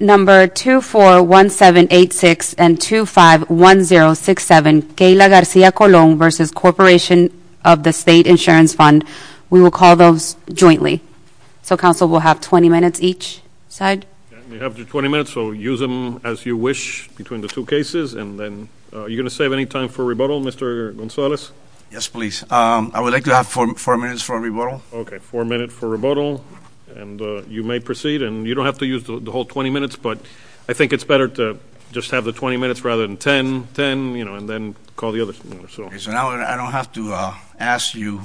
Number 241786 and 251067, Keila Garcia Colon v. Corporation of the State Insurance Fund. We will call those jointly. So council will have 20 minutes each side. You have your 20 minutes so use them as you wish between the two cases and then are you going to save any time for rebuttal Mr. Gonzalez? Yes please. I would like to have four minutes for rebuttal. Okay four minutes for rebuttal and you may proceed and you don't have to use the whole 20 minutes but I think it's better to just have the 20 minutes rather than 10, 10 and then call the others. Okay so now I don't have to ask you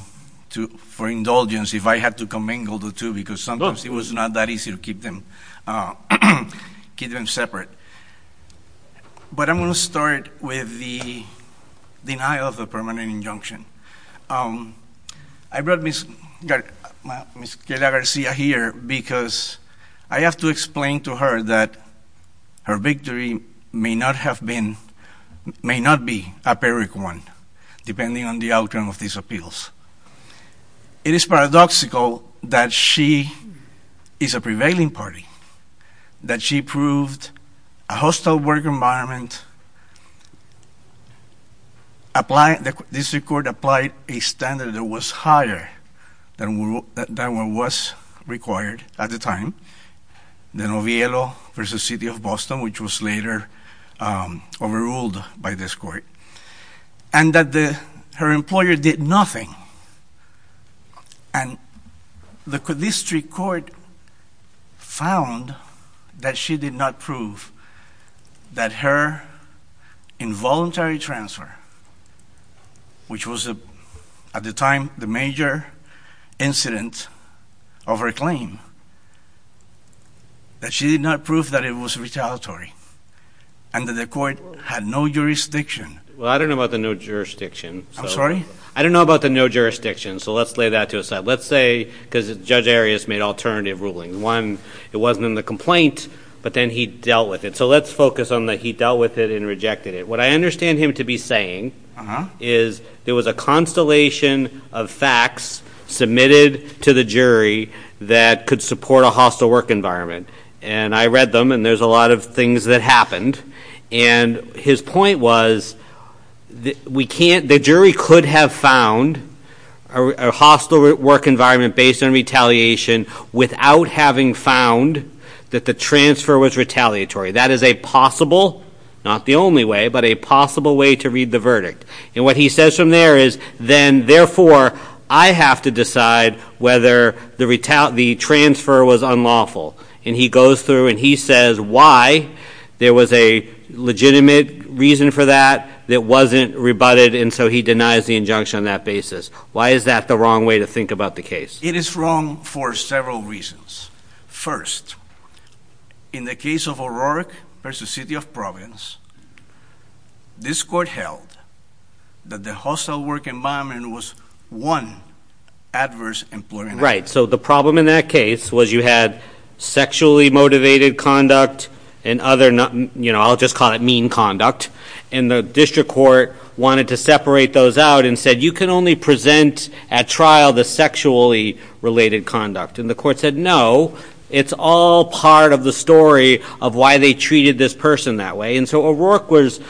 for indulgence if I had to commingle the two because sometimes it was not that easy to keep them separate. But I'm going to start with the denial of the permanent injunction. I brought Ms. Keila Garcia here because I have to explain to her that her victory may not have been, may not be a pyrrhic one depending on the outcome of these appeals. It is paradoxical that she is a prevailing party. That she proved a hostile work environment, the district court applied a standard that was higher than what was required at the time, the Noviello versus City of Boston which was later overruled by this court. And that her employer did nothing and the district court found that she did not prove that her involuntary transfer, which was at the time the major incident of her claim, that she did not prove that it was retaliatory and that the court had no jurisdiction. Well I don't know about the no jurisdiction. I'm sorry? I don't know about the no jurisdiction so let's lay that to a side. Let's say, because Judge Arias made alternative rulings. One, it wasn't in the complaint but then he dealt with it. So let's focus on the he dealt with it and rejected it. What I understand him to be saying is there was a constellation of facts submitted to the jury that could support a hostile work environment. And I read them and there's a lot of things that happened. And his point was the jury could have found a hostile work environment based on retaliation without having found that the transfer was retaliatory. That is a possible, not the only way, but a possible way to read the verdict. And what he says from there is then therefore I have to decide whether the transfer was unlawful. And he goes through and he says why there was a legitimate reason for that that wasn't rebutted and so he denies the injunction on that basis. Why is that the wrong way to think about the case? It is wrong for several reasons. First, in the case of O'Rourke versus City of Providence, this court held that the hostile work environment was one adverse employment. Right. So the problem in that case was you had sexually motivated conduct and other, you know, I'll just call it mean conduct, and the district court wanted to separate those out and said you can only present at trial the sexually related conduct. And the court said no, it's all part of the story of why they treated this person that way. And so O'Rourke was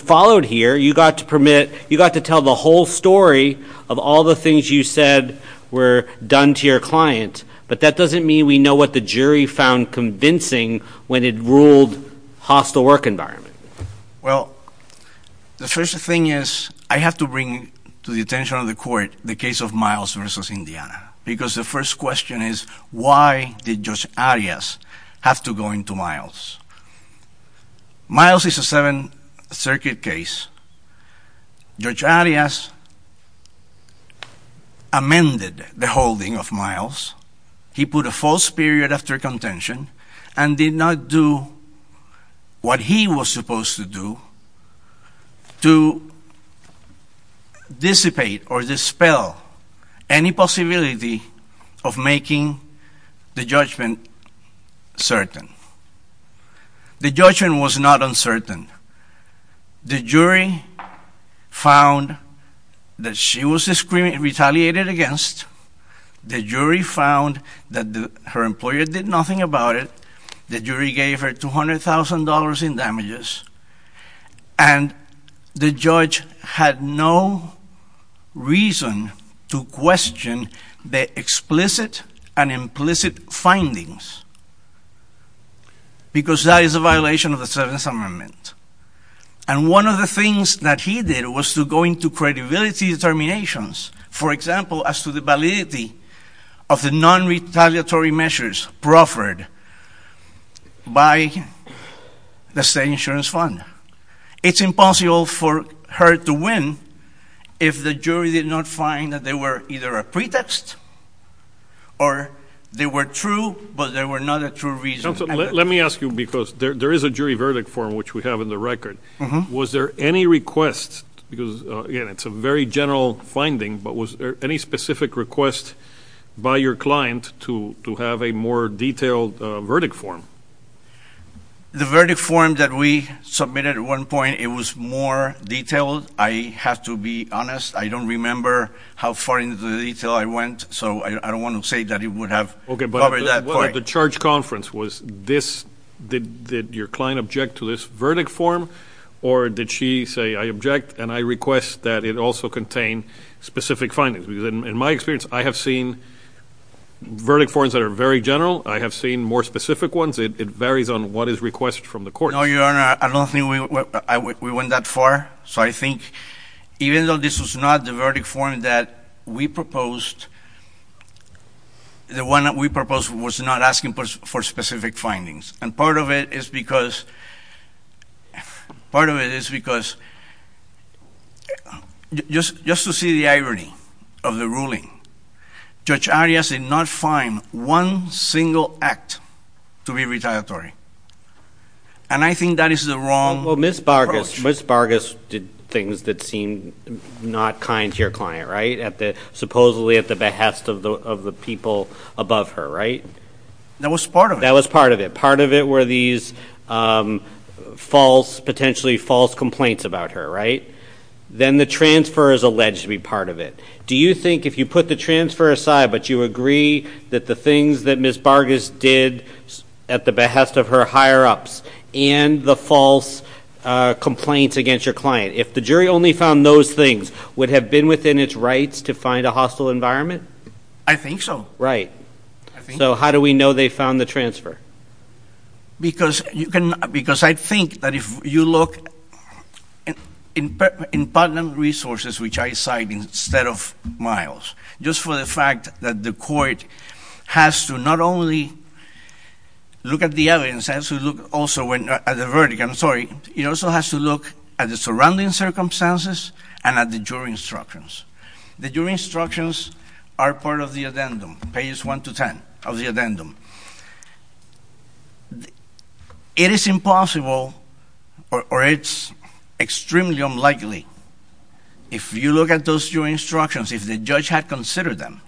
followed here. You got to tell the whole story of all the things you said were done to your client, but that doesn't mean we know what the jury found convincing when it ruled hostile work environment. Well, the first thing is I have to bring to the attention of the court the case of Miles versus Indiana because the first question is why did Judge Arias have to go into Miles? Miles is a Seventh Circuit case. Judge Arias amended the holding of Miles. He put a false period after contention and did not do what he was supposed to do to dissipate or dispel any possibility of making the judgment certain. The judgment was not uncertain. The jury found that she was retaliated against. The jury found that her employer did nothing about it. The jury gave her $200,000 in damages. And the judge had no reason to question the explicit and implicit findings because that is a violation of the Seventh Amendment. And one of the things that he did was to go into credibility determinations, for example, as to the validity of the non-retaliatory measures proffered by the State Insurance Fund. It's impossible for her to win if the jury did not find that they were either a pretext or they were true, but they were not a true reason. Let me ask you because there is a jury verdict form, which we have in the record. Was there any request, because, again, it's a very general finding, but was there any specific request by your client to have a more detailed verdict form? The verdict form that we submitted at one point, it was more detailed. I have to be honest, I don't remember how far into the detail I went, so I don't want to say that it would have covered that part. Well, at the charge conference, did your client object to this verdict form, or did she say, I object and I request that it also contain specific findings? Because in my experience, I have seen verdict forms that are very general. I have seen more specific ones. It varies on what is requested from the court. No, Your Honor, I don't think we went that far. So I think even though this was not the verdict form that we proposed, the one that we proposed was not asking for specific findings. And part of it is because just to see the irony of the ruling, Judge Arias did not find one single act to be retaliatory. And I think that is the wrong approach. Well, Ms. Bargus did things that seemed not kind to your client, right? Supposedly at the behest of the people above her, right? That was part of it. That was part of it. Part of it were these false, potentially false complaints about her, right? Then the transfer is alleged to be part of it. Do you think if you put the transfer aside, but you agree that the things that Ms. Bargus did at the behest of her higher-ups and the false complaints against your client, if the jury only found those things, would have been within its rights to find a hostile environment? I think so. Right. So how do we know they found the transfer? Because I think that if you look in partner resources, which I cite instead of Miles, just for the fact that the court has to not only look at the evidence, it has to look also at the verdict. I'm sorry. It also has to look at the surrounding circumstances and at the jury instructions. The jury instructions are part of the addendum, pages 1 to 10 of the addendum. It is impossible, or it's extremely unlikely, if you look at those jury instructions, if the judge had considered them,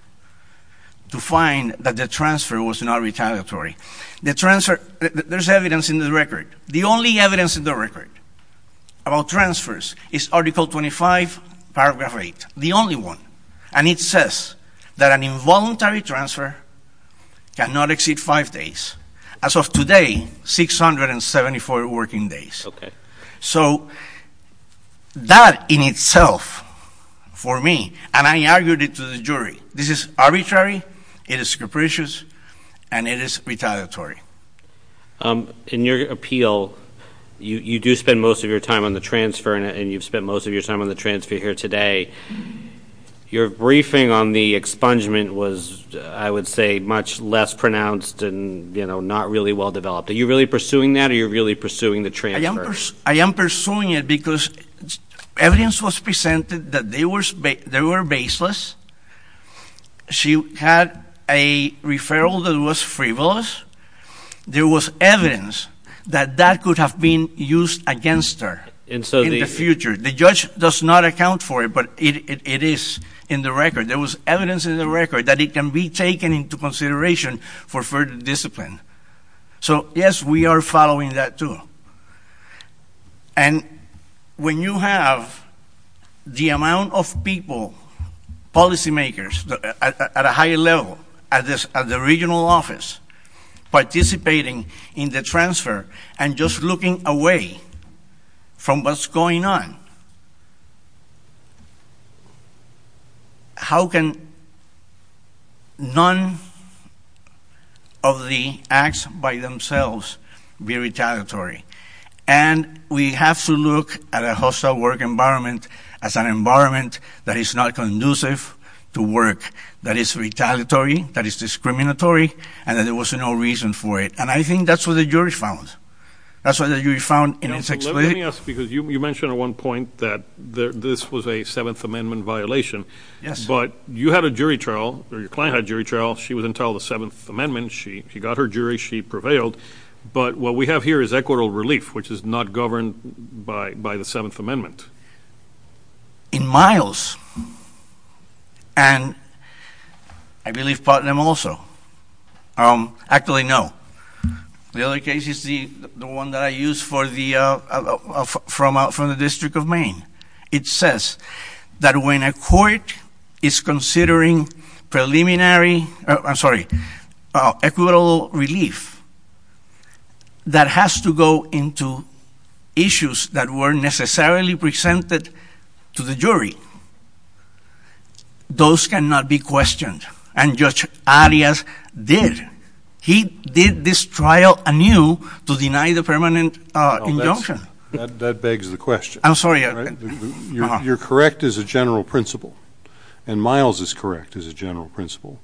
to find that the transfer was not retaliatory. The transfer, there's evidence in the record. The only evidence in the record about transfers is Article 25, Paragraph 8. The only one. And it says that an involuntary transfer cannot exceed five days. As of today, 674 working days. Okay. So that in itself, for me, and I argued it to the jury, this is arbitrary, it is capricious, and it is retaliatory. In your appeal, you do spend most of your time on the transfer, and you've spent most of your time on the transfer here today. Your briefing on the expungement was, I would say, much less pronounced and not really well developed. Are you really pursuing that, or are you really pursuing the transfer? I am pursuing it because evidence was presented that they were baseless. She had a referral that was frivolous. There was evidence that that could have been used against her in the future. The judge does not account for it, but it is in the record. There was evidence in the record that it can be taken into consideration for further discipline. So, yes, we are following that, too. And when you have the amount of people, policymakers at a higher level, at the regional office participating in the transfer and just looking away from what's going on, how can none of the acts by themselves be retaliatory? And we have to look at a hostile work environment as an environment that is not conducive to work, that is retaliatory, that is discriminatory, and that there was no reason for it. And I think that's what the jury found. That's what the jury found in its explanation. Let me ask, because you mentioned at one point that this was a Seventh Amendment violation. Yes. But you had a jury trial, or your client had a jury trial. She was entitled to the Seventh Amendment. She got her jury. She prevailed. But what we have here is equitable relief, which is not governed by the Seventh Amendment. In Miles, and I believe Putnam also. Actually, no. The other case is the one that I used from the District of Maine. It says that when a court is considering preliminary, I'm sorry, equitable relief, that has to go into issues that weren't necessarily presented to the jury. Those cannot be questioned, and Judge Arias did. He did this trial anew to deny the permanent injunction. That begs the question. I'm sorry. You're correct as a general principle, and Miles is correct as a general principle.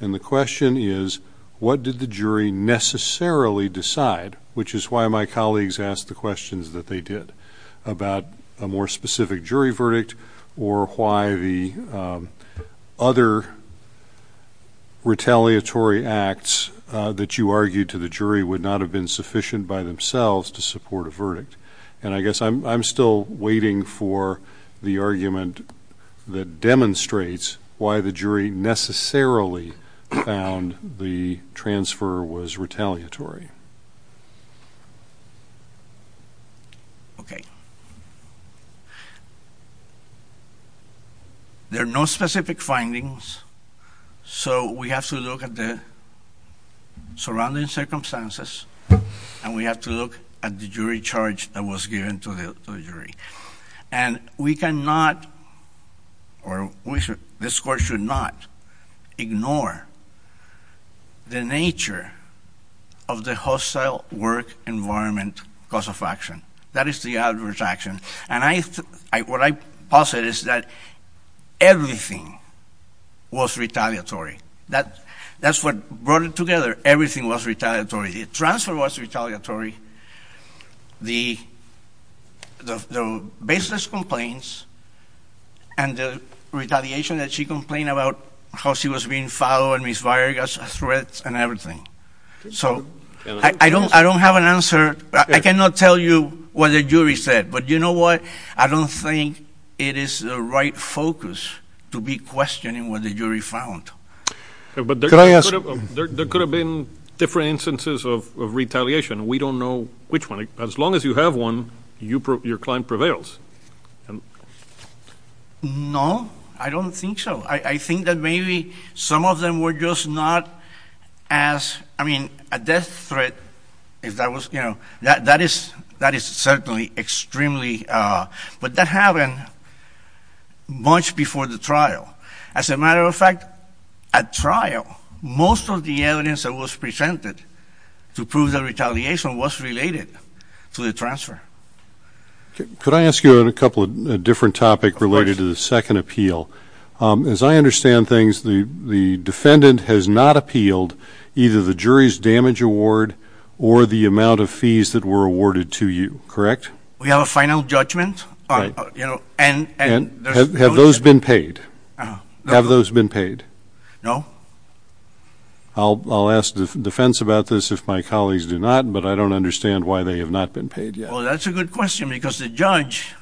And the question is, what did the jury necessarily decide, which is why my colleagues asked the questions that they did, about a more specific jury verdict, or why the other retaliatory acts that you argued to the jury would not have been sufficient by themselves to support a verdict. And I guess I'm still waiting for the argument that demonstrates why the jury necessarily found the transfer was retaliatory. Okay. There are no specific findings, so we have to look at the surrounding circumstances, and we have to look at the jury charge that was given to the jury. And we cannot or this court should not ignore the nature of the hostile work environment cause of action. That is the adverse action. And what I posit is that everything was retaliatory. That's what brought it together. Everything was retaliatory. The transfer was retaliatory. The baseless complaints and the retaliation that she complained about, how she was being followed and misguided as a threat and everything. So I don't have an answer. I cannot tell you what the jury said, but you know what? I don't think it is the right focus to be questioning what the jury found. But there could have been different instances of retaliation. We don't know which one. As long as you have one, your client prevails. No, I don't think so. I think that maybe some of them were just not as, I mean, a death threat, if that was, you know. That is certainly extremely. But that happened much before the trial. As a matter of fact, at trial, most of the evidence that was presented to prove the retaliation was related to the transfer. Could I ask you a couple of different topics related to the second appeal? As I understand things, the defendant has not appealed either the jury's damage award or the amount of fees that were awarded to you, correct? We have a final judgment. Have those been paid? Have those been paid? No. I'll ask defense about this if my colleagues do not, but I don't understand why they have not been paid yet. Well, that's a good question because the judge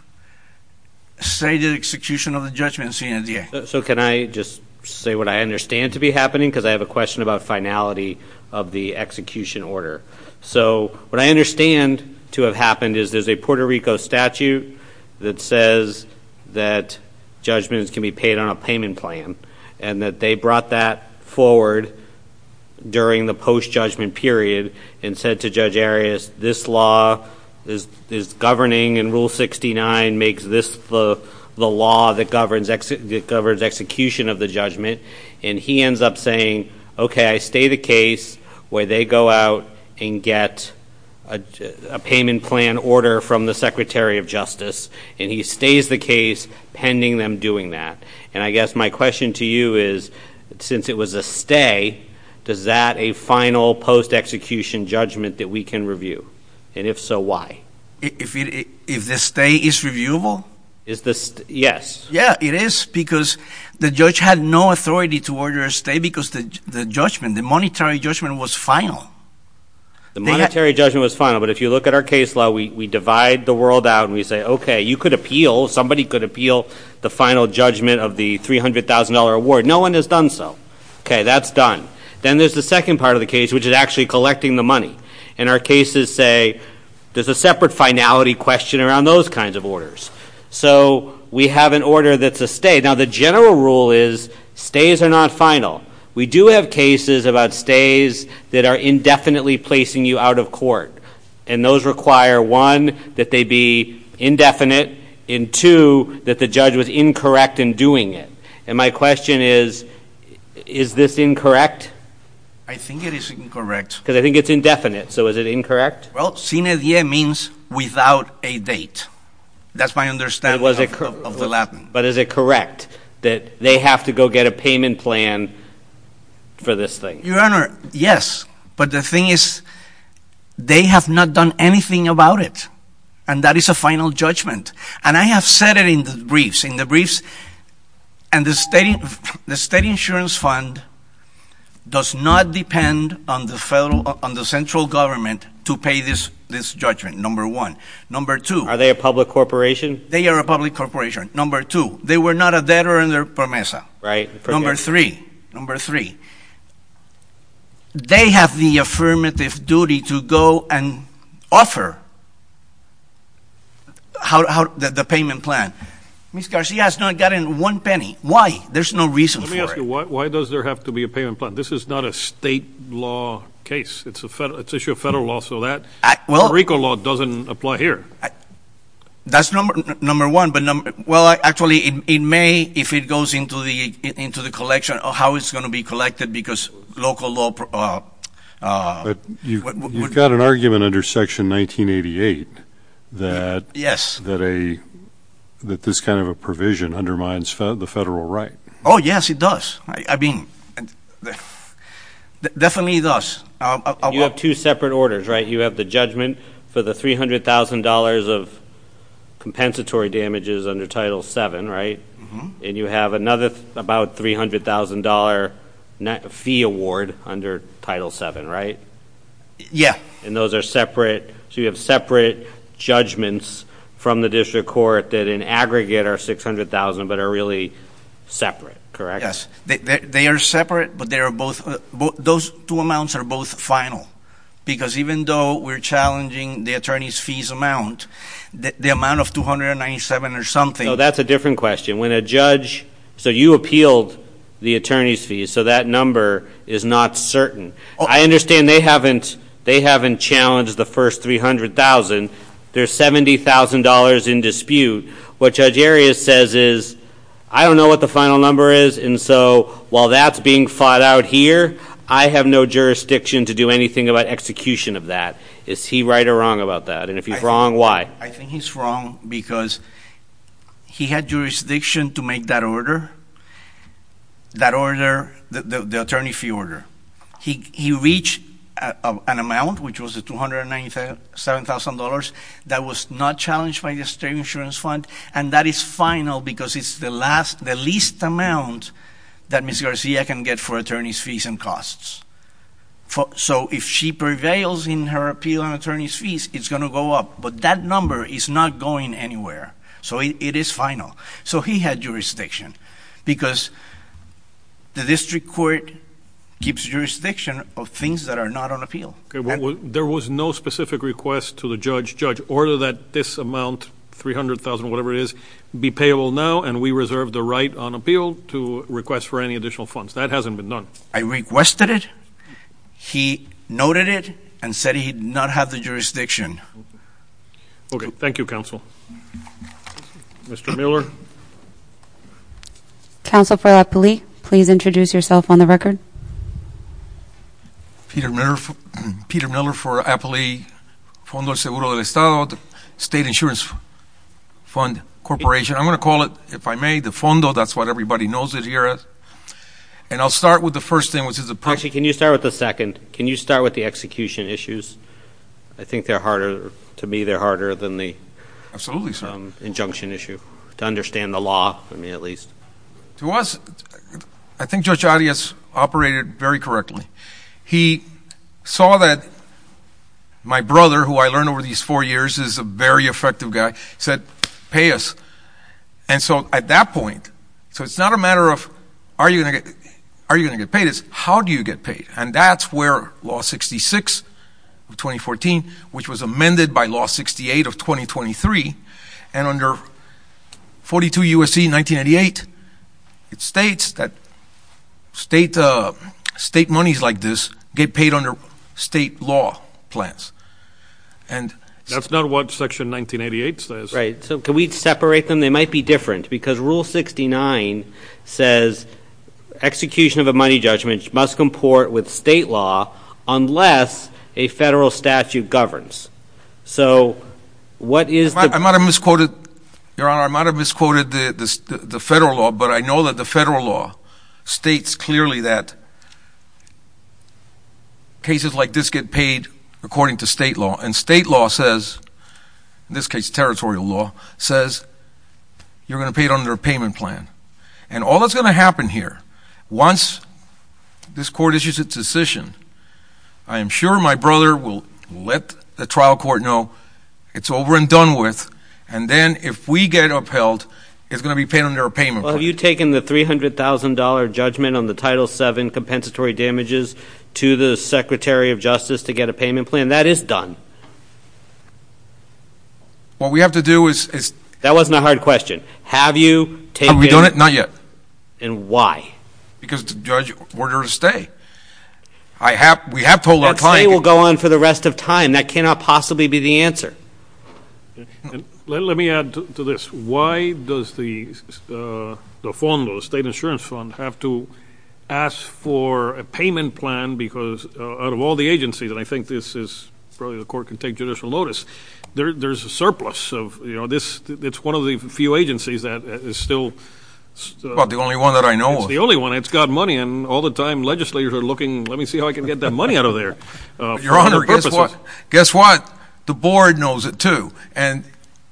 stated execution of the judgment. So can I just say what I understand to be happening? Because I have a question about finality of the execution order. So what I understand to have happened is there's a Puerto Rico statute that says that judgments can be paid on a payment plan and that they brought that forward during the post-judgment period and said to Judge Arias, this law is governing, and Rule 69 makes this the law that governs execution of the judgment. And he ends up saying, okay, I stay the case where they go out and get a payment plan order from the Secretary of Justice, and he stays the case pending them doing that. And I guess my question to you is, since it was a stay, does that a final post-execution judgment that we can review? And if so, why? If the stay is reviewable? Yes. Yeah, it is because the judge had no authority to order a stay because the judgment, the monetary judgment, was final. The monetary judgment was final, but if you look at our case law, we divide the world out and we say, okay, you could appeal, somebody could appeal the final judgment of the $300,000 award. No one has done so. Okay, that's done. Then there's the second part of the case, which is actually collecting the money. And our cases say there's a separate finality question around those kinds of orders. So we have an order that's a stay. Now, the general rule is stays are not final. We do have cases about stays that are indefinitely placing you out of court, and those require, one, that they be indefinite, and, two, that the judge was incorrect in doing it. And my question is, is this incorrect? I think it is incorrect. Because I think it's indefinite, so is it incorrect? Well, sine die means without a date. That's my understanding of the Latin. But is it correct that they have to go get a payment plan for this thing? Your Honor, yes. But the thing is, they have not done anything about it, and that is a final judgment. And I have said it in the briefs. And the state insurance fund does not depend on the central government to pay this judgment, number one. Number two. Are they a public corporation? They are a public corporation, number two. They were not a debtor under PROMESA. Right. Number three, number three. They have the affirmative duty to go and offer the payment plan. Ms. Garcia has not gotten one penny. Why? There's no reason for it. Let me ask you, why does there have to be a payment plan? This is not a state law case. It's an issue of federal law, so that. Well. America law doesn't apply here. That's number one. Well, actually, in May, if it goes into the collection, how it's going to be collected, because local law. But you've got an argument under Section 1988 that. Yes. That this kind of a provision undermines the federal right. Oh, yes, it does. I mean, definitely it does. You have two separate orders, right? You have the judgment for the $300,000 of compensatory damages under Title VII, right? And you have another about $300,000 fee award under Title VII, right? Yeah. And those are separate. So you have separate judgments from the district court that in aggregate are $600,000, but are really separate, correct? Yes. They are separate, but they are both. Those two amounts are both final. Because even though we're challenging the attorney's fees amount, the amount of $297,000 or something. No, that's a different question. When a judge. So you appealed the attorney's fees, so that number is not certain. I understand they haven't challenged the first $300,000. There's $70,000 in dispute. What Judge Arias says is, I don't know what the final number is. And so while that's being fought out here, I have no jurisdiction to do anything about execution of that. Is he right or wrong about that? And if he's wrong, why? I think he's wrong because he had jurisdiction to make that order, the attorney fee order. He reached an amount, which was the $297,000, that was not challenged by the state insurance fund. And that is final because it's the least amount that Ms. Garcia can get for attorney's fees and costs. So if she prevails in her appeal on attorney's fees, it's going to go up. But that number is not going anywhere. So it is final. So he had jurisdiction because the district court gives jurisdiction of things that are not on appeal. There was no specific request to the judge, judge, order that this amount, $300,000, whatever it is, be payable now, and we reserve the right on appeal to request for any additional funds. That hasn't been done. I requested it. He noted it and said he did not have the jurisdiction. Okay. Thank you, counsel. Mr. Miller. Counsel for Apley, please introduce yourself on the record. Peter Miller for Apley, Fondo Seguro del Estado, State Insurance Fund Corporation. I'm going to call it, if I may, the fondo. That's what everybody knows it here as. And I'll start with the first thing, which is the purpose. Actually, can you start with the second? Can you start with the execution issues? I think they're harder, to me, they're harder than the injunction issue, to understand the law, at least. To us, I think Judge Arias operated very correctly. He saw that my brother, who I learned over these four years is a very effective guy, said, pay us. And so at that point, so it's not a matter of are you going to get paid, it's how do you get paid. And that's where Law 66 of 2014, which was amended by Law 68 of 2023, and under 42 U.S.C. 1988, it states that state monies like this get paid under state law plans. That's not what Section 1988 says. Right. So can we separate them? They might be different because Rule 69 says execution of a money judgment must comport with state law unless a federal statute governs. So what is the ---- I might have misquoted, Your Honor, I might have misquoted the federal law, but I know that the federal law states clearly that cases like this get paid according to state law. And state law says, in this case territorial law, says you're going to pay it under a payment plan. And all that's going to happen here, once this court issues its decision, I am sure my brother will let the trial court know it's over and done with, and then if we get upheld, it's going to be paid under a payment plan. Well, have you taken the $300,000 judgment on the Title VII compensatory damages to the Secretary of Justice to get a payment plan? And that is done. What we have to do is ---- That wasn't a hard question. Have you taken ---- Have we done it? Not yet. And why? Because the judge ordered a stay. We have told our client ---- That stay will go on for the rest of time. That cannot possibly be the answer. Let me add to this. Why does the state insurance fund have to ask for a payment plan because out of all the agencies, and I think this is probably the court can take judicial notice, there's a surplus of, you know, it's one of the few agencies that is still ---- Well, the only one that I know of. It's the only one. It's got money, and all the time legislators are looking, let me see how I can get that money out of there. Your Honor, guess what? The board knows it, too. And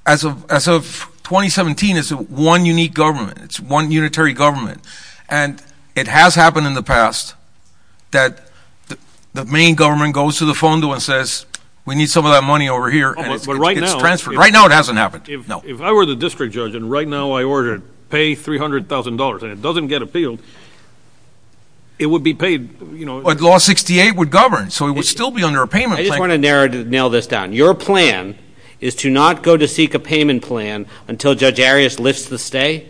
as of 2017, it's one unique government. It's one unitary government. And it has happened in the past that the main government goes to the fondo and says, we need some of that money over here, and it gets transferred. Right now it hasn't happened. No. If I were the district judge and right now I were to pay $300,000 and it doesn't get appealed, it would be paid ---- But law 68 would govern, so it would still be under a payment plan. I just want to nail this down. Your plan is to not go to seek a payment plan until Judge Arias lifts the stay?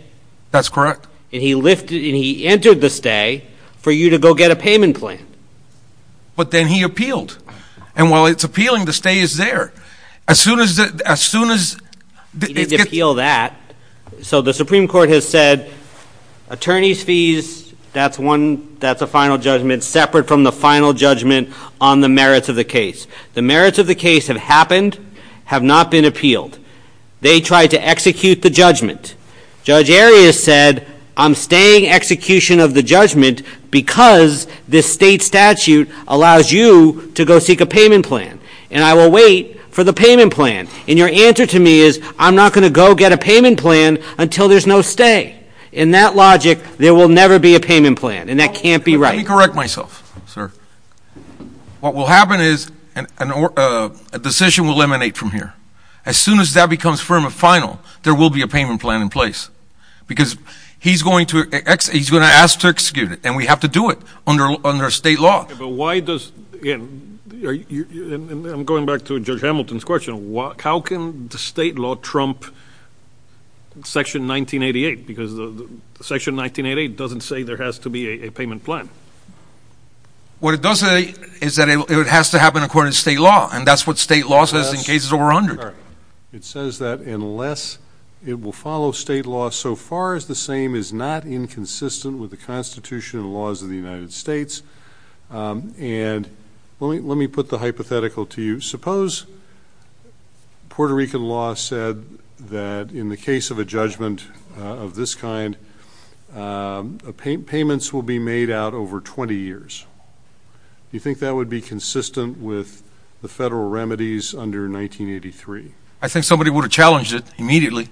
That's correct. And he entered the stay for you to go get a payment plan. But then he appealed. And while it's appealing, the stay is there. As soon as ---- He didn't appeal that. So the Supreme Court has said attorneys' fees, that's a final judgment, separate from the final judgment on the merits of the case. The merits of the case have happened, have not been appealed. They tried to execute the judgment. Judge Arias said, I'm staying execution of the judgment because this state statute allows you to go seek a payment plan. And I will wait for the payment plan. And your answer to me is, I'm not going to go get a payment plan until there's no stay. In that logic, there will never be a payment plan. And that can't be right. Let me correct myself, sir. What will happen is a decision will emanate from here. As soon as that becomes firm and final, there will be a payment plan in place. Because he's going to ask to execute it, and we have to do it under state law. But why does, again, I'm going back to Judge Hamilton's question. How can the state law trump Section 1988? Because Section 1988 doesn't say there has to be a payment plan. What it does say is that it has to happen according to state law. And that's what state law says in cases over 100. It says that unless it will follow state law so far as the same is not inconsistent with the Constitution and laws of the United States. And let me put the hypothetical to you. Suppose Puerto Rican law said that in the case of a judgment of this kind, payments will be made out over 20 years. Do you think that would be consistent with the federal remedies under 1983? I think somebody would have challenged it immediately,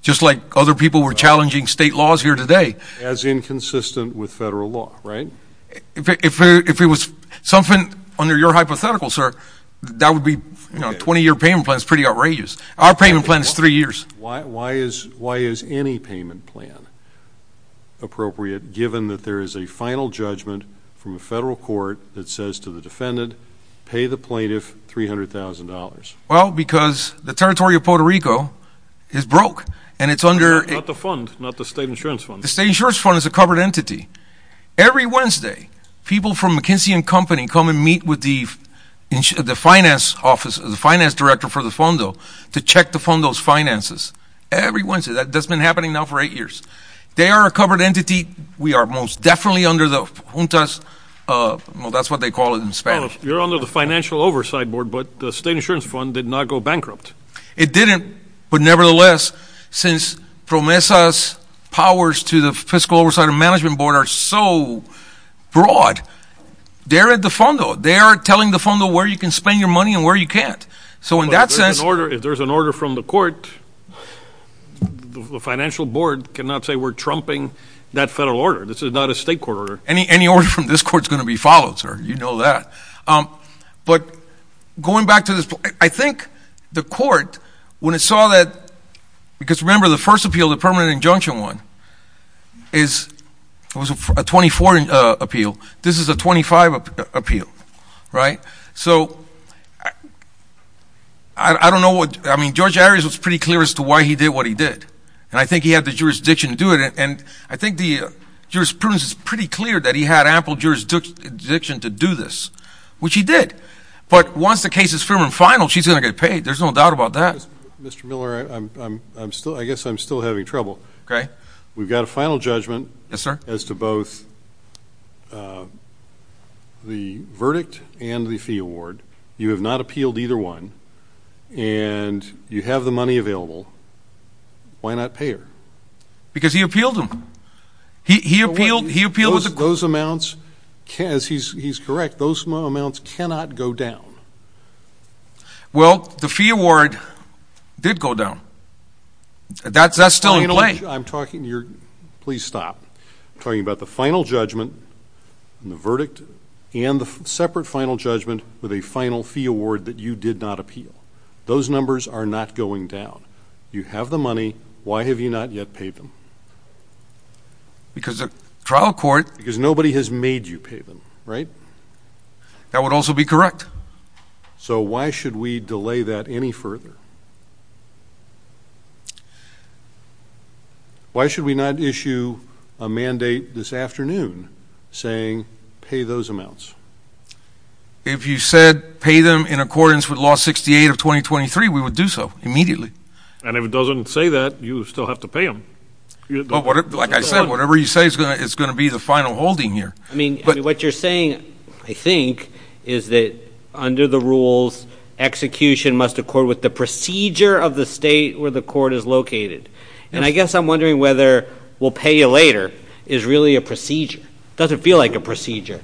just like other people were challenging state laws here today. As inconsistent with federal law, right? If it was something under your hypothetical, sir, that would be, you know, 20-year payment plan is pretty outrageous. Our payment plan is three years. Why is any payment plan appropriate given that there is a final judgment from a federal court that says to the defendant, pay the plaintiff $300,000? Well, because the territory of Puerto Rico is broke. Not the fund, not the state insurance fund. The state insurance fund is a covered entity. Every Wednesday, people from McKinsey & Company come and meet with the finance office, the finance director for the fondo to check the fondo's finances. Every Wednesday. That's been happening now for eight years. They are a covered entity. We are most definitely under the juntas. Well, that's what they call it in Spanish. You're under the financial oversight board, but the state insurance fund did not go bankrupt. It didn't, but nevertheless, since PROMESA's powers to the fiscal oversight and management board are so broad, they're at the fondo. They are telling the fondo where you can spend your money and where you can't. So in that sense... But if there's an order from the court, the financial board cannot say we're trumping that federal order. This is not a state court order. Any order from this court is going to be followed, sir. You know that. But going back to this, I think the court, when it saw that... Because remember, the first appeal, the permanent injunction one, was a 24 appeal. This is a 25 appeal, right? So I don't know what... I mean, George Arias was pretty clear as to why he did what he did, and I think he had the jurisdiction to do it. And I think the jurisprudence is pretty clear that he had ample jurisdiction to do this, which he did. But once the case is firm and final, she's going to get paid. There's no doubt about that. Mr. Miller, I guess I'm still having trouble. Okay. We've got a final judgment... Yes, sir. ...as to both the verdict and the fee award. You have not appealed either one, and you have the money available. Why not pay her? Because he appealed them. He appealed... Those amounts, he's correct, those amounts cannot go down. Well, the fee award did go down. That's still in play. I'm talking... Please stop. I'm talking about the final judgment and the verdict and the separate final judgment with a final fee award that you did not appeal. Those numbers are not going down. You have the money. Why have you not yet paid them? Because the trial court... Because nobody has made you pay them, right? That would also be correct. So why should we delay that any further? Why should we not issue a mandate this afternoon saying pay those amounts? If you said pay them in accordance with Law 68 of 2023, we would do so immediately. And if it doesn't say that, you still have to pay them. Like I said, whatever you say is going to be the final holding here. I mean, what you're saying, I think, is that under the rules, execution must accord with the procedure of the state where the court is located. And I guess I'm wondering whether we'll pay you later is really a procedure. It doesn't feel like a procedure.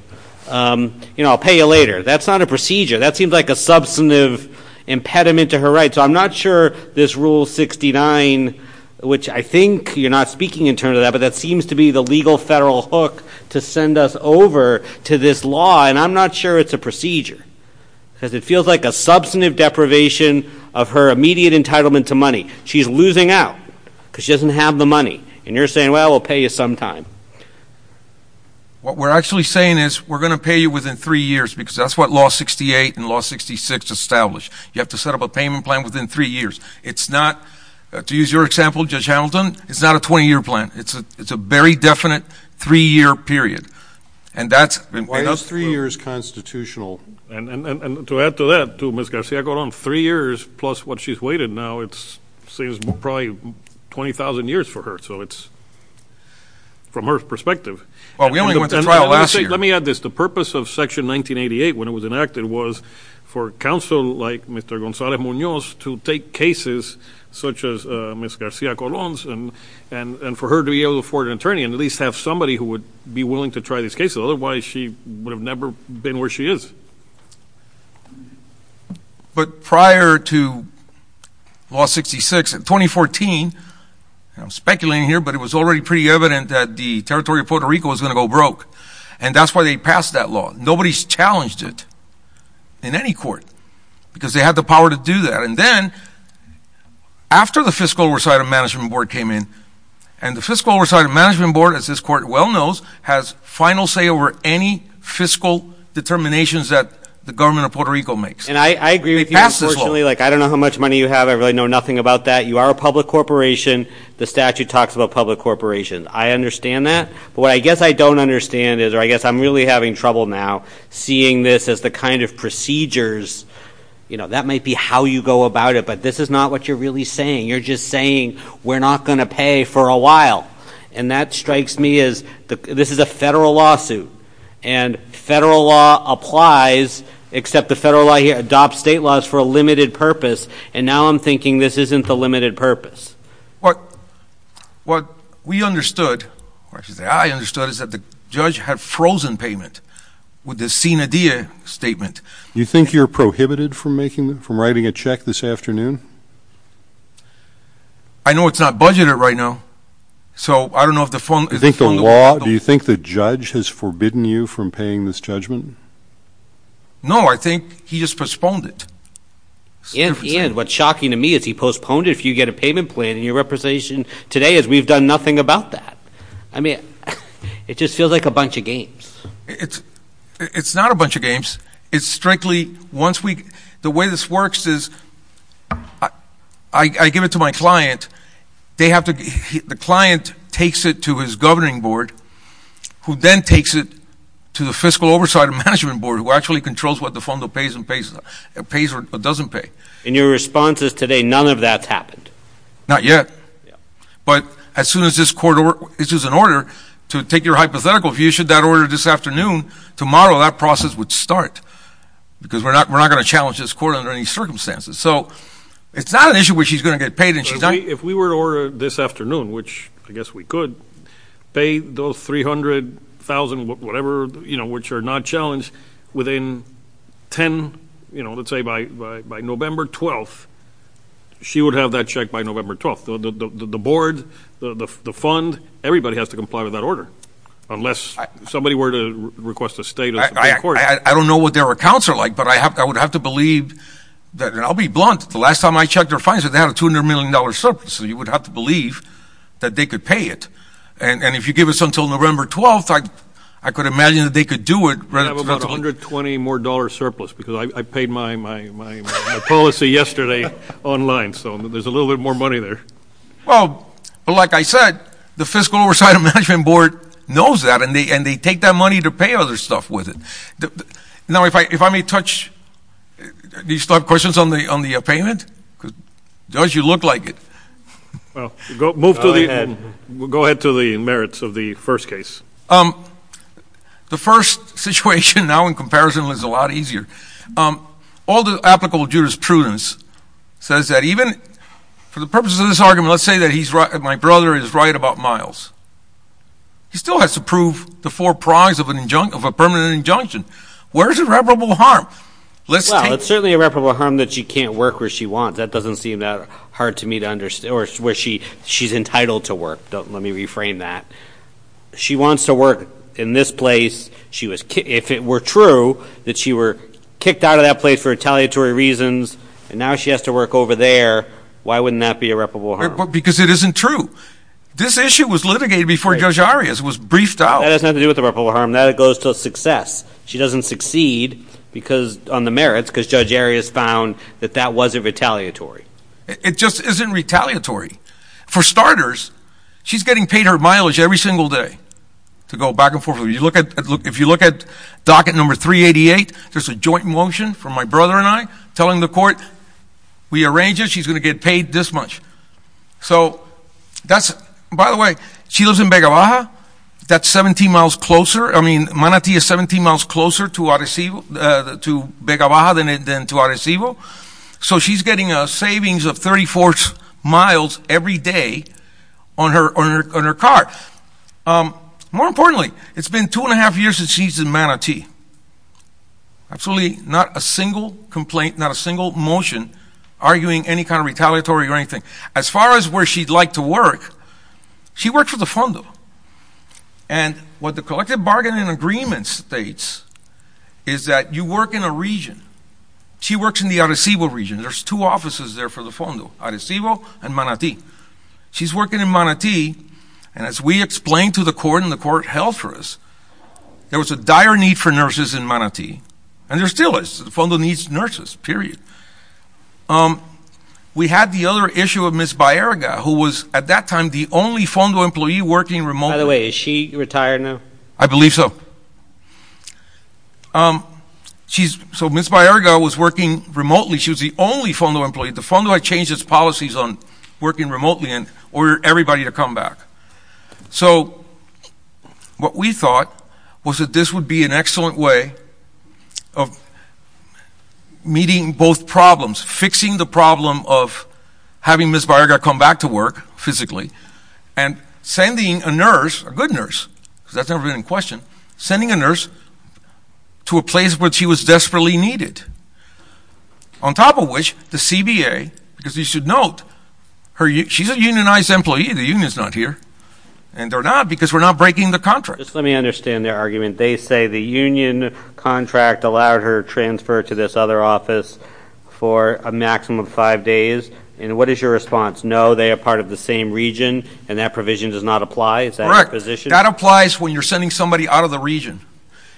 You know, I'll pay you later. That's not a procedure. That seems like a substantive impediment to her rights. So I'm not sure this Rule 69, which I think you're not speaking in terms of that, but that seems to be the legal federal hook to send us over to this law, and I'm not sure it's a procedure because it feels like a substantive deprivation of her immediate entitlement to money. She's losing out because she doesn't have the money. And you're saying, well, we'll pay you sometime. What we're actually saying is we're going to pay you within three years because that's what Law 68 and Law 66 establish. You have to set up a payment plan within three years. It's not, to use your example, Judge Hamilton, it's not a 20-year plan. It's a very definite three-year period, and that's been paid for. Why is three years constitutional? And to add to that, to Ms. Garcia-Gordon, three years plus what she's waited now, it seems probably 20,000 years for her. So it's from her perspective. Well, we only went to trial last year. Let me add this. The purpose of Section 1988 when it was enacted was for a counsel like Mr. Gonzalez-Munoz to take cases such as Ms. Garcia-Gordon's and for her to be able to afford an attorney and at least have somebody who would be willing to try these cases. Otherwise, she would have never been where she is. But prior to Law 66, in 2014, and I'm speculating here, but it was already pretty evident that the territory of Puerto Rico was going to go broke, and that's why they passed that law. Nobody's challenged it in any court because they had the power to do that. And then after the Fiscal Oversight and Management Board came in, and the Fiscal Oversight and Management Board, as this court well knows, has final say over any fiscal determinations that the government of Puerto Rico makes. And I agree with you, unfortunately. They passed this law. I don't know how much money you have. I really know nothing about that. You are a public corporation. The statute talks about public corporations. I understand that. But what I guess I don't understand is, or I guess I'm really having trouble now, seeing this as the kind of procedures, you know, that might be how you go about it, but this is not what you're really saying. You're just saying we're not going to pay for a while. And that strikes me as this is a federal lawsuit, and federal law applies, except the federal law here adopts state laws for a limited purpose, and now I'm thinking this isn't the limited purpose. What we understood, or I should say I understood, is that the judge had frozen payment with the SIN IDEA statement. Do you think you're prohibited from writing a check this afternoon? I know it's not budgeted right now, so I don't know if the phone is on. Do you think the law, do you think the judge has forbidden you from paying this judgment? No, I think he just postponed it. Ian, what's shocking to me is he postponed it. If you get a payment plan in your representation today is we've done nothing about that. I mean, it just feels like a bunch of games. It's not a bunch of games. It's strictly once we, the way this works is I give it to my client. They have to, the client takes it to his governing board, who then takes it to the fiscal oversight and management board, who actually controls what the FONDO pays or doesn't pay. In your responses today, none of that's happened. Not yet. But as soon as this court, this is an order, to take your hypothetical, if you issued that order this afternoon, tomorrow that process would start because we're not going to challenge this court under any circumstances. So it's not an issue where she's going to get paid. If we were to order this afternoon, which I guess we could, pay those $300,000, whatever, you know, which are not challenged, within 10, you know, let's say by November 12th, she would have that check by November 12th. The board, the fund, everybody has to comply with that order unless somebody were to request a state of the court. I don't know what their accounts are like, but I would have to believe that, and I'll be blunt, the last time I checked their fines, they had a $200 million surplus. So you would have to believe that they could pay it. And if you give us until November 12th, I could imagine that they could do it. I have about $120 more surplus because I paid my policy yesterday online. So there's a little bit more money there. Well, like I said, the Fiscal Oversight and Management Board knows that, and they take that money to pay other stuff with it. Now, if I may touch, do you still have questions on the payment? Because it does look like it. Go ahead to the merits of the first case. The first situation now in comparison is a lot easier. All the applicable jurisprudence says that even for the purposes of this argument, let's say that my brother is right about miles. He still has to prove the four prongs of a permanent injunction. Where is irreparable harm? Well, it's certainly irreparable harm that she can't work where she wants. That doesn't seem that hard to me to understand, or where she's entitled to work. Let me reframe that. She wants to work in this place. If it were true that she were kicked out of that place for retaliatory reasons, and now she has to work over there, why wouldn't that be irreparable harm? Because it isn't true. This issue was litigated before Judge Arias was briefed out. That has nothing to do with irreparable harm. That goes to success. She doesn't succeed on the merits because Judge Arias found that that wasn't retaliatory. It just isn't retaliatory. For starters, she's getting paid her mileage every single day to go back and forth. If you look at docket number 388, there's a joint motion from my brother and I telling the court, we arranged it, she's going to get paid this much. By the way, she lives in Vega Baja. That's 17 miles closer. I mean, Manatee is 17 miles closer to Vega Baja than to Arecibo. So she's getting a savings of 34 miles every day on her car. More importantly, it's been two and a half years since she's in Manatee. Absolutely not a single complaint, not a single motion arguing any kind of retaliatory or anything. As far as where she'd like to work, she works for the FONDO. And what the collective bargaining agreement states is that you work in a region. She works in the Arecibo region. There's two offices there for the FONDO, Arecibo and Manatee. She's working in Manatee. And as we explained to the court and the court held for us, there was a dire need for nurses in Manatee. And there still is. The FONDO needs nurses, period. We had the other issue of Ms. Baerga, who was at that time the only FONDO employee working remotely. By the way, is she retired now? I believe so. So Ms. Baerga was working remotely. She was the only FONDO employee. The FONDO had changed its policies on working remotely and ordered everybody to come back. So what we thought was that this would be an excellent way of meeting both problems, fixing the problem of having Ms. Baerga come back to work physically, and sending a nurse, a good nurse, because that's never been in question, sending a nurse to a place where she was desperately needed. On top of which, the CBA, because you should note, she's a unionized employee. The union's not here. And they're not because we're not breaking the contract. Just let me understand their argument. They say the union contract allowed her to transfer to this other office for a maximum of five days. And what is your response? No, they are part of the same region, and that provision does not apply? Is that your position? That applies when you're sending somebody out of the region.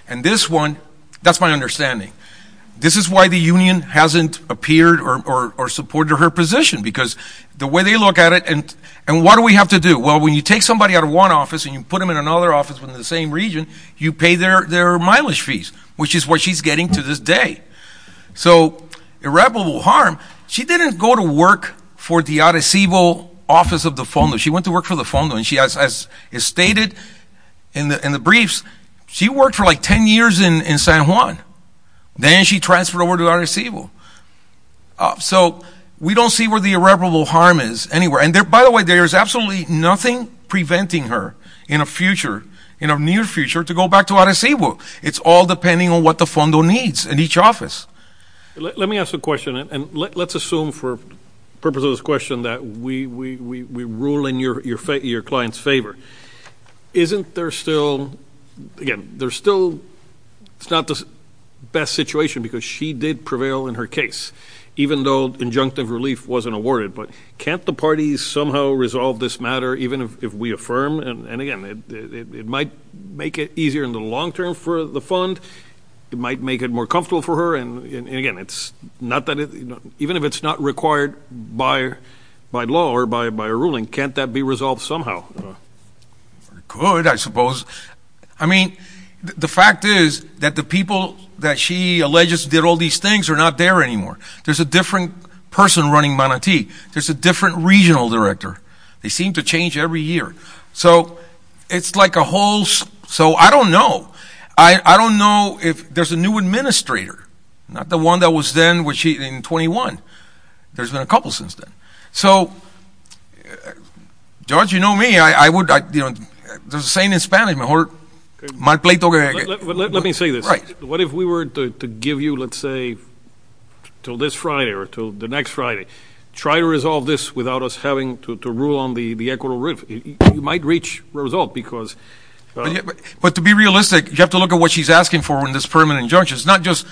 And this one, that's my understanding. This is why the union hasn't appeared or supported her position, because the way they look at it, and what do we have to do? Well, when you take somebody out of one office and you put them in another office in the same region, you pay their mileage fees, which is what she's getting to this day. So irreparable harm. She didn't go to work for the Arecibo office of the FONDO. She went to work for the FONDO. And as is stated in the briefs, she worked for, like, 10 years in San Juan. Then she transferred over to Arecibo. So we don't see where the irreparable harm is anywhere. And, by the way, there is absolutely nothing preventing her in a future, in a near future, to go back to Arecibo. It's all depending on what the FONDO needs in each office. Let me ask a question, and let's assume for the purpose of this question that we rule in your client's favor. Isn't there still, again, there's still, it's not the best situation because she did prevail in her case, even though injunctive relief wasn't awarded. But can't the parties somehow resolve this matter, even if we affirm? And, again, it might make it easier in the long term for the fund. It might make it more comfortable for her. And, again, it's not that, even if it's not required by law or by a ruling, can't that be resolved somehow? It could, I suppose. I mean, the fact is that the people that she alleges did all these things are not there anymore. There's a different person running Manantí. There's a different regional director. They seem to change every year. So it's like a whole, so I don't know. I don't know if there's a new administrator, not the one that was then when she, in 21. There's been a couple since then. So, George, you know me. I would, you know, there's a saying in Spanish. Let me say this. Right. What if we were to give you, let's say, until this Friday or until the next Friday, try to resolve this without us having to rule on the equitable relief? You might reach a result because. But to be realistic, you have to look at what she's asking for in this permanent injunction. It's not just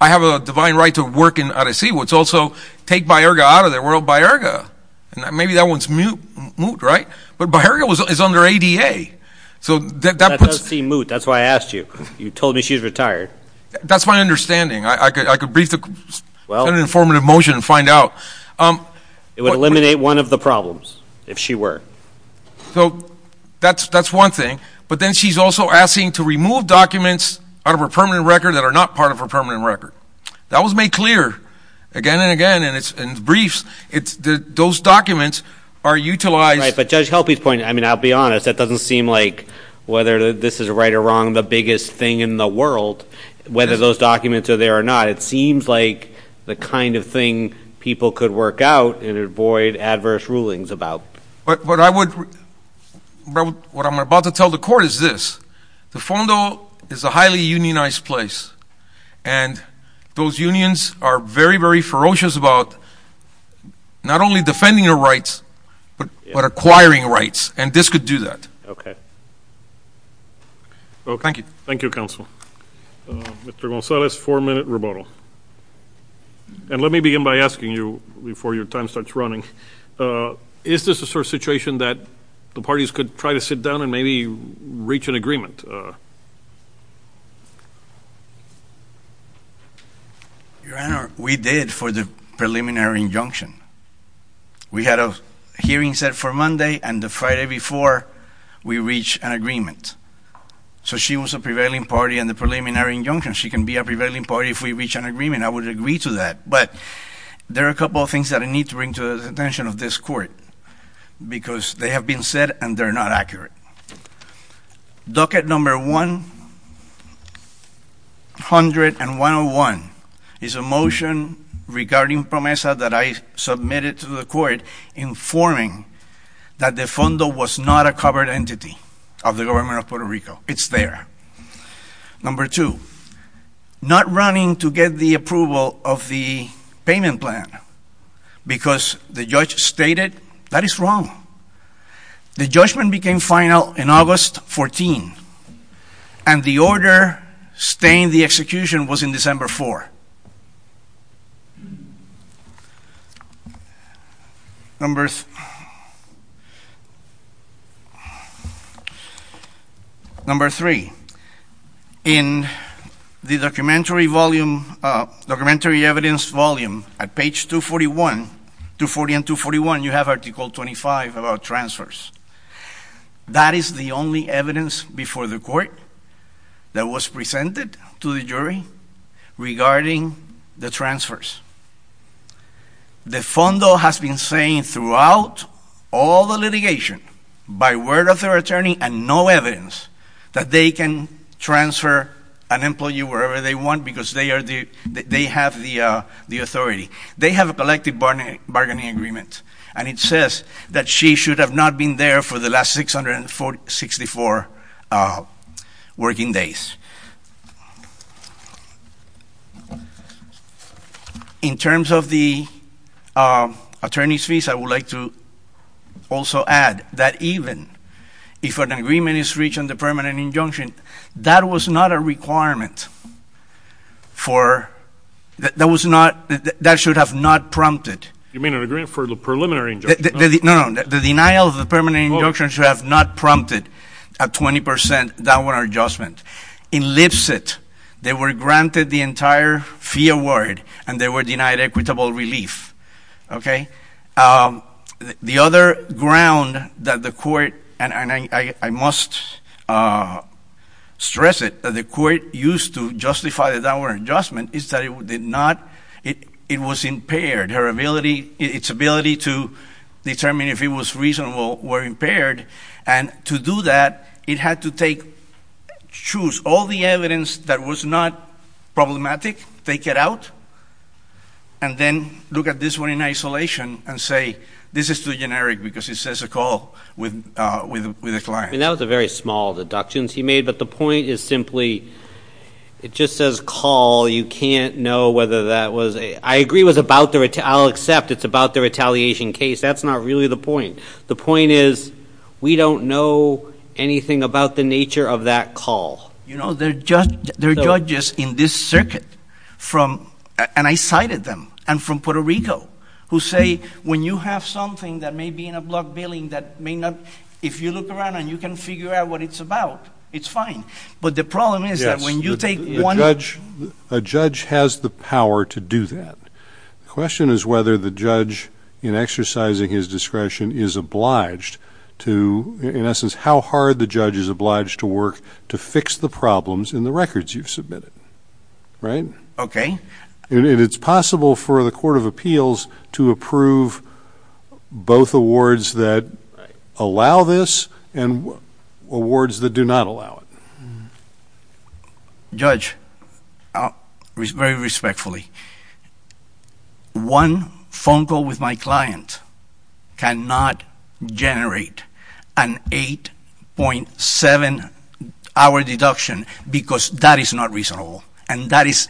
I have a divine right to work in Arecibo. It's also take Bajarga out of the world, Bajarga. And maybe that one's moot, right? But Bajarga is under ADA. So that puts. That does seem moot. That's why I asked you. You told me she's retired. That's my understanding. I could brief in an informative motion and find out. It would eliminate one of the problems if she were. So that's one thing. But then she's also asking to remove documents out of her permanent record that are not part of her permanent record. That was made clear again and again in briefs. Those documents are utilized. Right. But Judge Helpe's point, I mean, I'll be honest. That doesn't seem like whether this is right or wrong the biggest thing in the world, whether those documents are there or not. It seems like the kind of thing people could work out and avoid adverse rulings about. But what I would. What I'm about to tell the court is this. The fondo is a highly unionized place. And those unions are very, very ferocious about not only defending their rights, but acquiring rights. And this could do that. Okay. Thank you. Thank you, Counsel. Mr. Gonzalez, four-minute rebuttal. And let me begin by asking you before your time starts running. Is this a sort of situation that the parties could try to sit down and maybe reach an agreement? Your Honor, we did for the preliminary injunction. We had a hearing set for Monday and the Friday before we reached an agreement. So she was a prevailing party in the preliminary injunction. She can be a prevailing party if we reach an agreement. I would agree to that. But there are a couple of things that I need to bring to the attention of this court because they have been said and they're not accurate. Docket number 101 is a motion regarding PROMESA that I submitted to the court informing that the fondo was not a covered entity of the government of Puerto Rico. It's there. Number two, not running to get the approval of the payment plan because the judge stated that is wrong. The judgment became final in August 14, and the order staying the execution was in December 4. Number three, in the documentary evidence volume at page 240 and 241, you have article 25 about transfers. That is the only evidence before the court that was presented to the jury regarding the transfers. The fondo has been saying throughout all the litigation by word of their attorney and no evidence that they can transfer an employee wherever they want because they have the authority. They have a collective bargaining agreement, and it says that she should have not been there for the last 664 working days. In terms of the attorney's fees, I would like to also add that even if an agreement is reached on the permanent injunction, that was not a requirement. That should have not prompted. You mean an agreement for the preliminary injunction? No, no. The denial of the permanent injunction should have not prompted a 20% downward adjustment. In Lipset, they were granted the entire fee award, and they were denied equitable relief. Okay? The other ground that the court, and I must stress it, that the court used to justify the downward adjustment is that it did not. It was impaired. Its ability to determine if it was reasonable were impaired. And to do that, it had to choose all the evidence that was not problematic, take it out, and then look at this one in isolation and say, this is too generic because it says a call with a client. I mean, that was a very small deductions he made, but the point is simply it just says call. You can't know whether that was a, I agree it was about the, I'll accept it's about the retaliation case. That's not really the point. The point is we don't know anything about the nature of that call. You know, there are judges in this circuit from, and I cited them, and from Puerto Rico, who say when you have something that may be in a block billing that may not, if you look around and you can figure out what it's about, it's fine. But the problem is that when you take one. A judge has the power to do that. The question is whether the judge in exercising his discretion is obliged to, in essence, how hard the judge is obliged to work to fix the problems in the records you've submitted. Right? Okay. And it's possible for the Court of Appeals to approve both awards that allow this and awards that do not allow it. Judge, very respectfully, one phone call with my client cannot generate an 8.7-hour deduction because that is not reasonable. And that is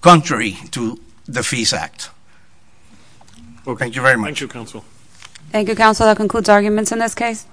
contrary to the Fees Act. Well, thank you very much. Thank you, Counsel. Thank you, Counsel. That concludes arguments in this case.